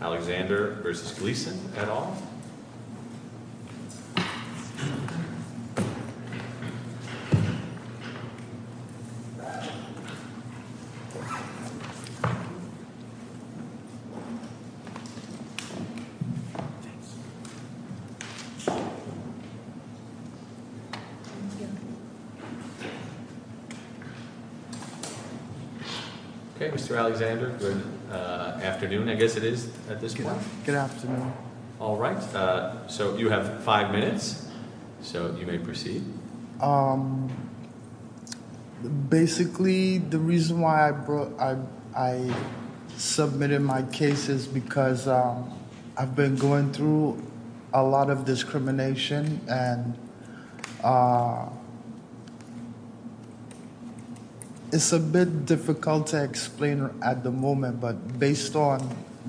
Alexander v. Gleeson et al. Okay, Mr. Alexander, good afternoon. I guess it is at this point. Good afternoon. All right. So you have five minutes, so you may proceed. Basically, the reason why I submitted my case is because I've been going through a lot of discrimination and it's a bit difficult to explain at the moment, but based on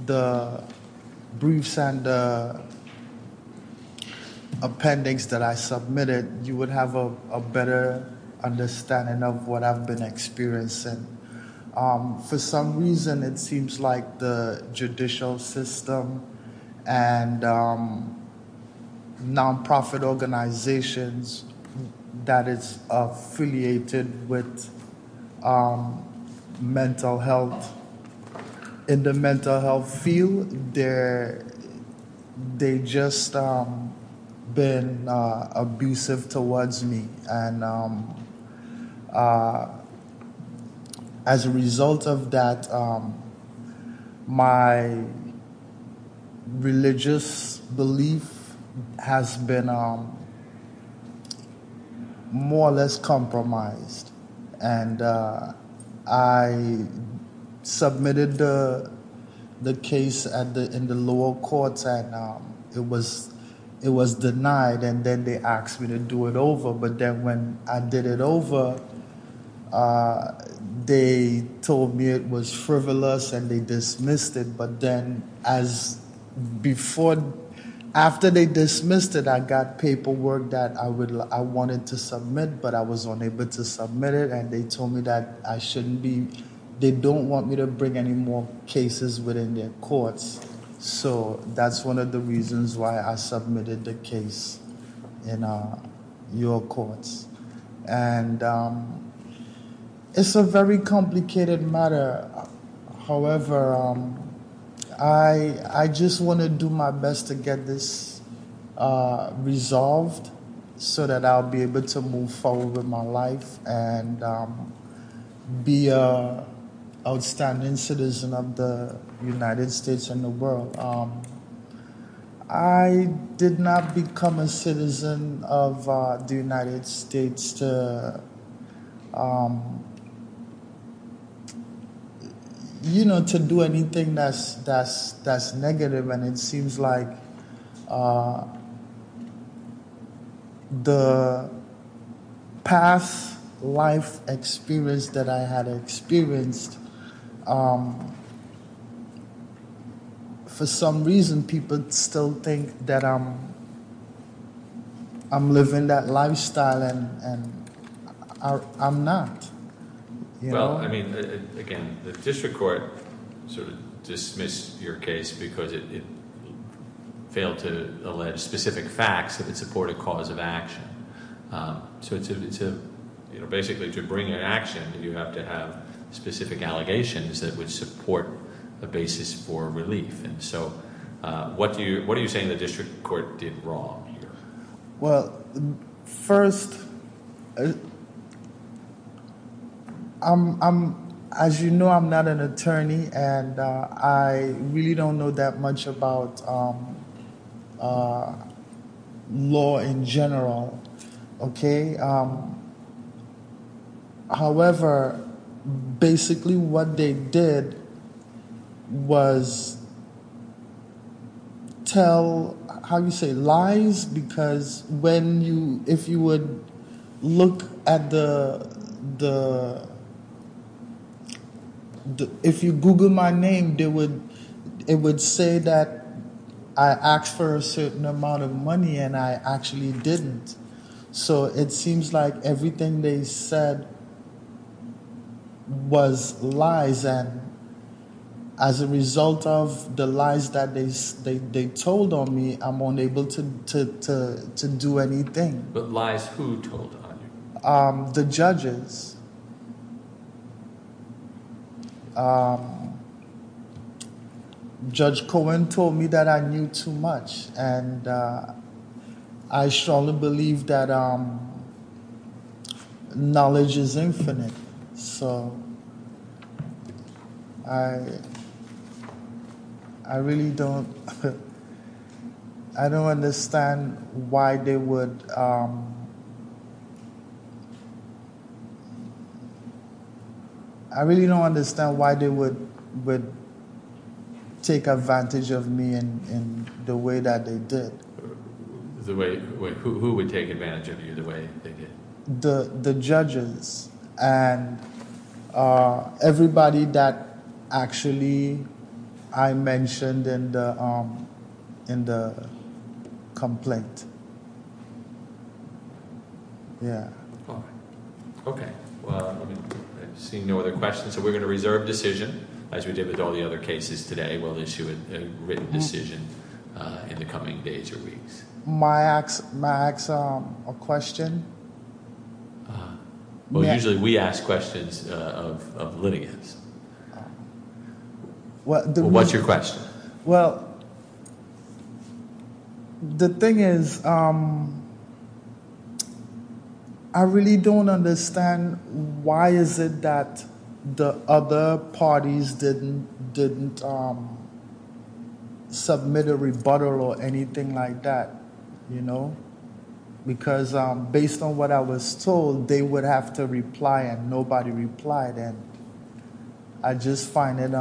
the briefs and the appendix that I submitted, you would have a better understanding of what I've been experiencing. For some reason, it seems like the judicial system and nonprofit organizations that is affiliated with mental health, in the mental health field, they've just been abusive towards me. And as a result of that, my religious belief has been more or less compromised. And I submitted the case in the lower courts and it was denied and then they asked me to do it over. But then when I did it over, they told me it was frivolous and they dismissed it. But then after they dismissed it, I got paperwork that I wanted to submit, but I was unable to submit it. And they told me that they don't want me to bring any more cases within their courts. So that's one of the reasons why I submitted the case in your courts. And it's a very complicated matter. However, I just want to do my best to get this resolved so that I'll be able to move forward with my life and be an outstanding citizen of the United States and the world. I did not become a citizen of the United States to do anything that's negative. And it seems like the past life experience that I had experienced, for some reason people still think that I'm living that lifestyle and I'm not. Well, I mean, again, the district court sort of dismissed your case because it failed to allege specific facts that would support a cause of action. So basically to bring an action, you have to have specific allegations that would support a basis for relief. And so what are you saying the district court did wrong here? Well, first, as you know, I'm not an attorney and I really don't know that much about law in general. However, basically what they did was tell, how do you say, lies because if you Google my name, it would say that I asked for a certain amount of money and I actually didn't. So it seems like everything they said was lies and as a result of the lies that they told on me, I'm unable to do anything. But lies who told on you? The judges, Judge Cohen told me that I knew too much and I strongly believe that knowledge is infinite. So I really don't, I don't understand why they would, I really don't understand why they would take advantage of me in the way that they did. The way, who would take advantage of you the way they did? The judges and everybody that actually I mentioned in the complaint. Yeah. Okay. Well, I see no other questions. So we're going to reserve decision as we did with all the other cases today. We'll issue a written decision in the coming days or weeks. May I ask a question? Well, usually we ask questions of litigants. What's your question? Well, the thing is, I really don't understand why is it that the other parties didn't submit a rebuttal or anything like that, you know? Because based on what I was told, they would have to reply and nobody replied. And I just find it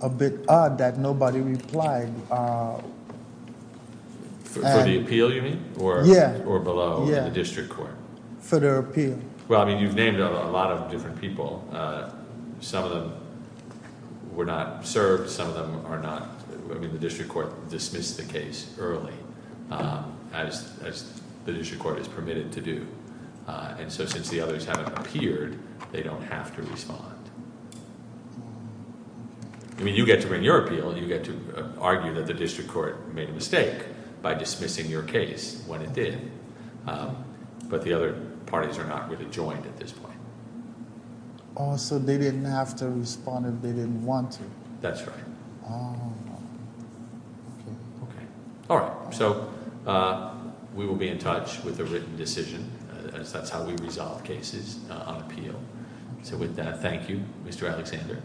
a bit odd that nobody replied. For the appeal you mean? Yeah. Or below the district court? For their appeal. Well, I mean, you've named a lot of different people. Some of them were not served. Some of them are not. I mean, the district court dismissed the case early as the district court is permitted to do. And so since the others haven't appeared, they don't have to respond. I mean, you get to bring your appeal. You get to argue that the district court made a mistake by dismissing your case when it did. But the other parties are not really joined at this point. Oh, so they didn't have to respond if they didn't want to. That's right. All right. So we will be in touch with a written decision. That's how we resolve cases on appeal. So with that, thank you, Mr. Alexander.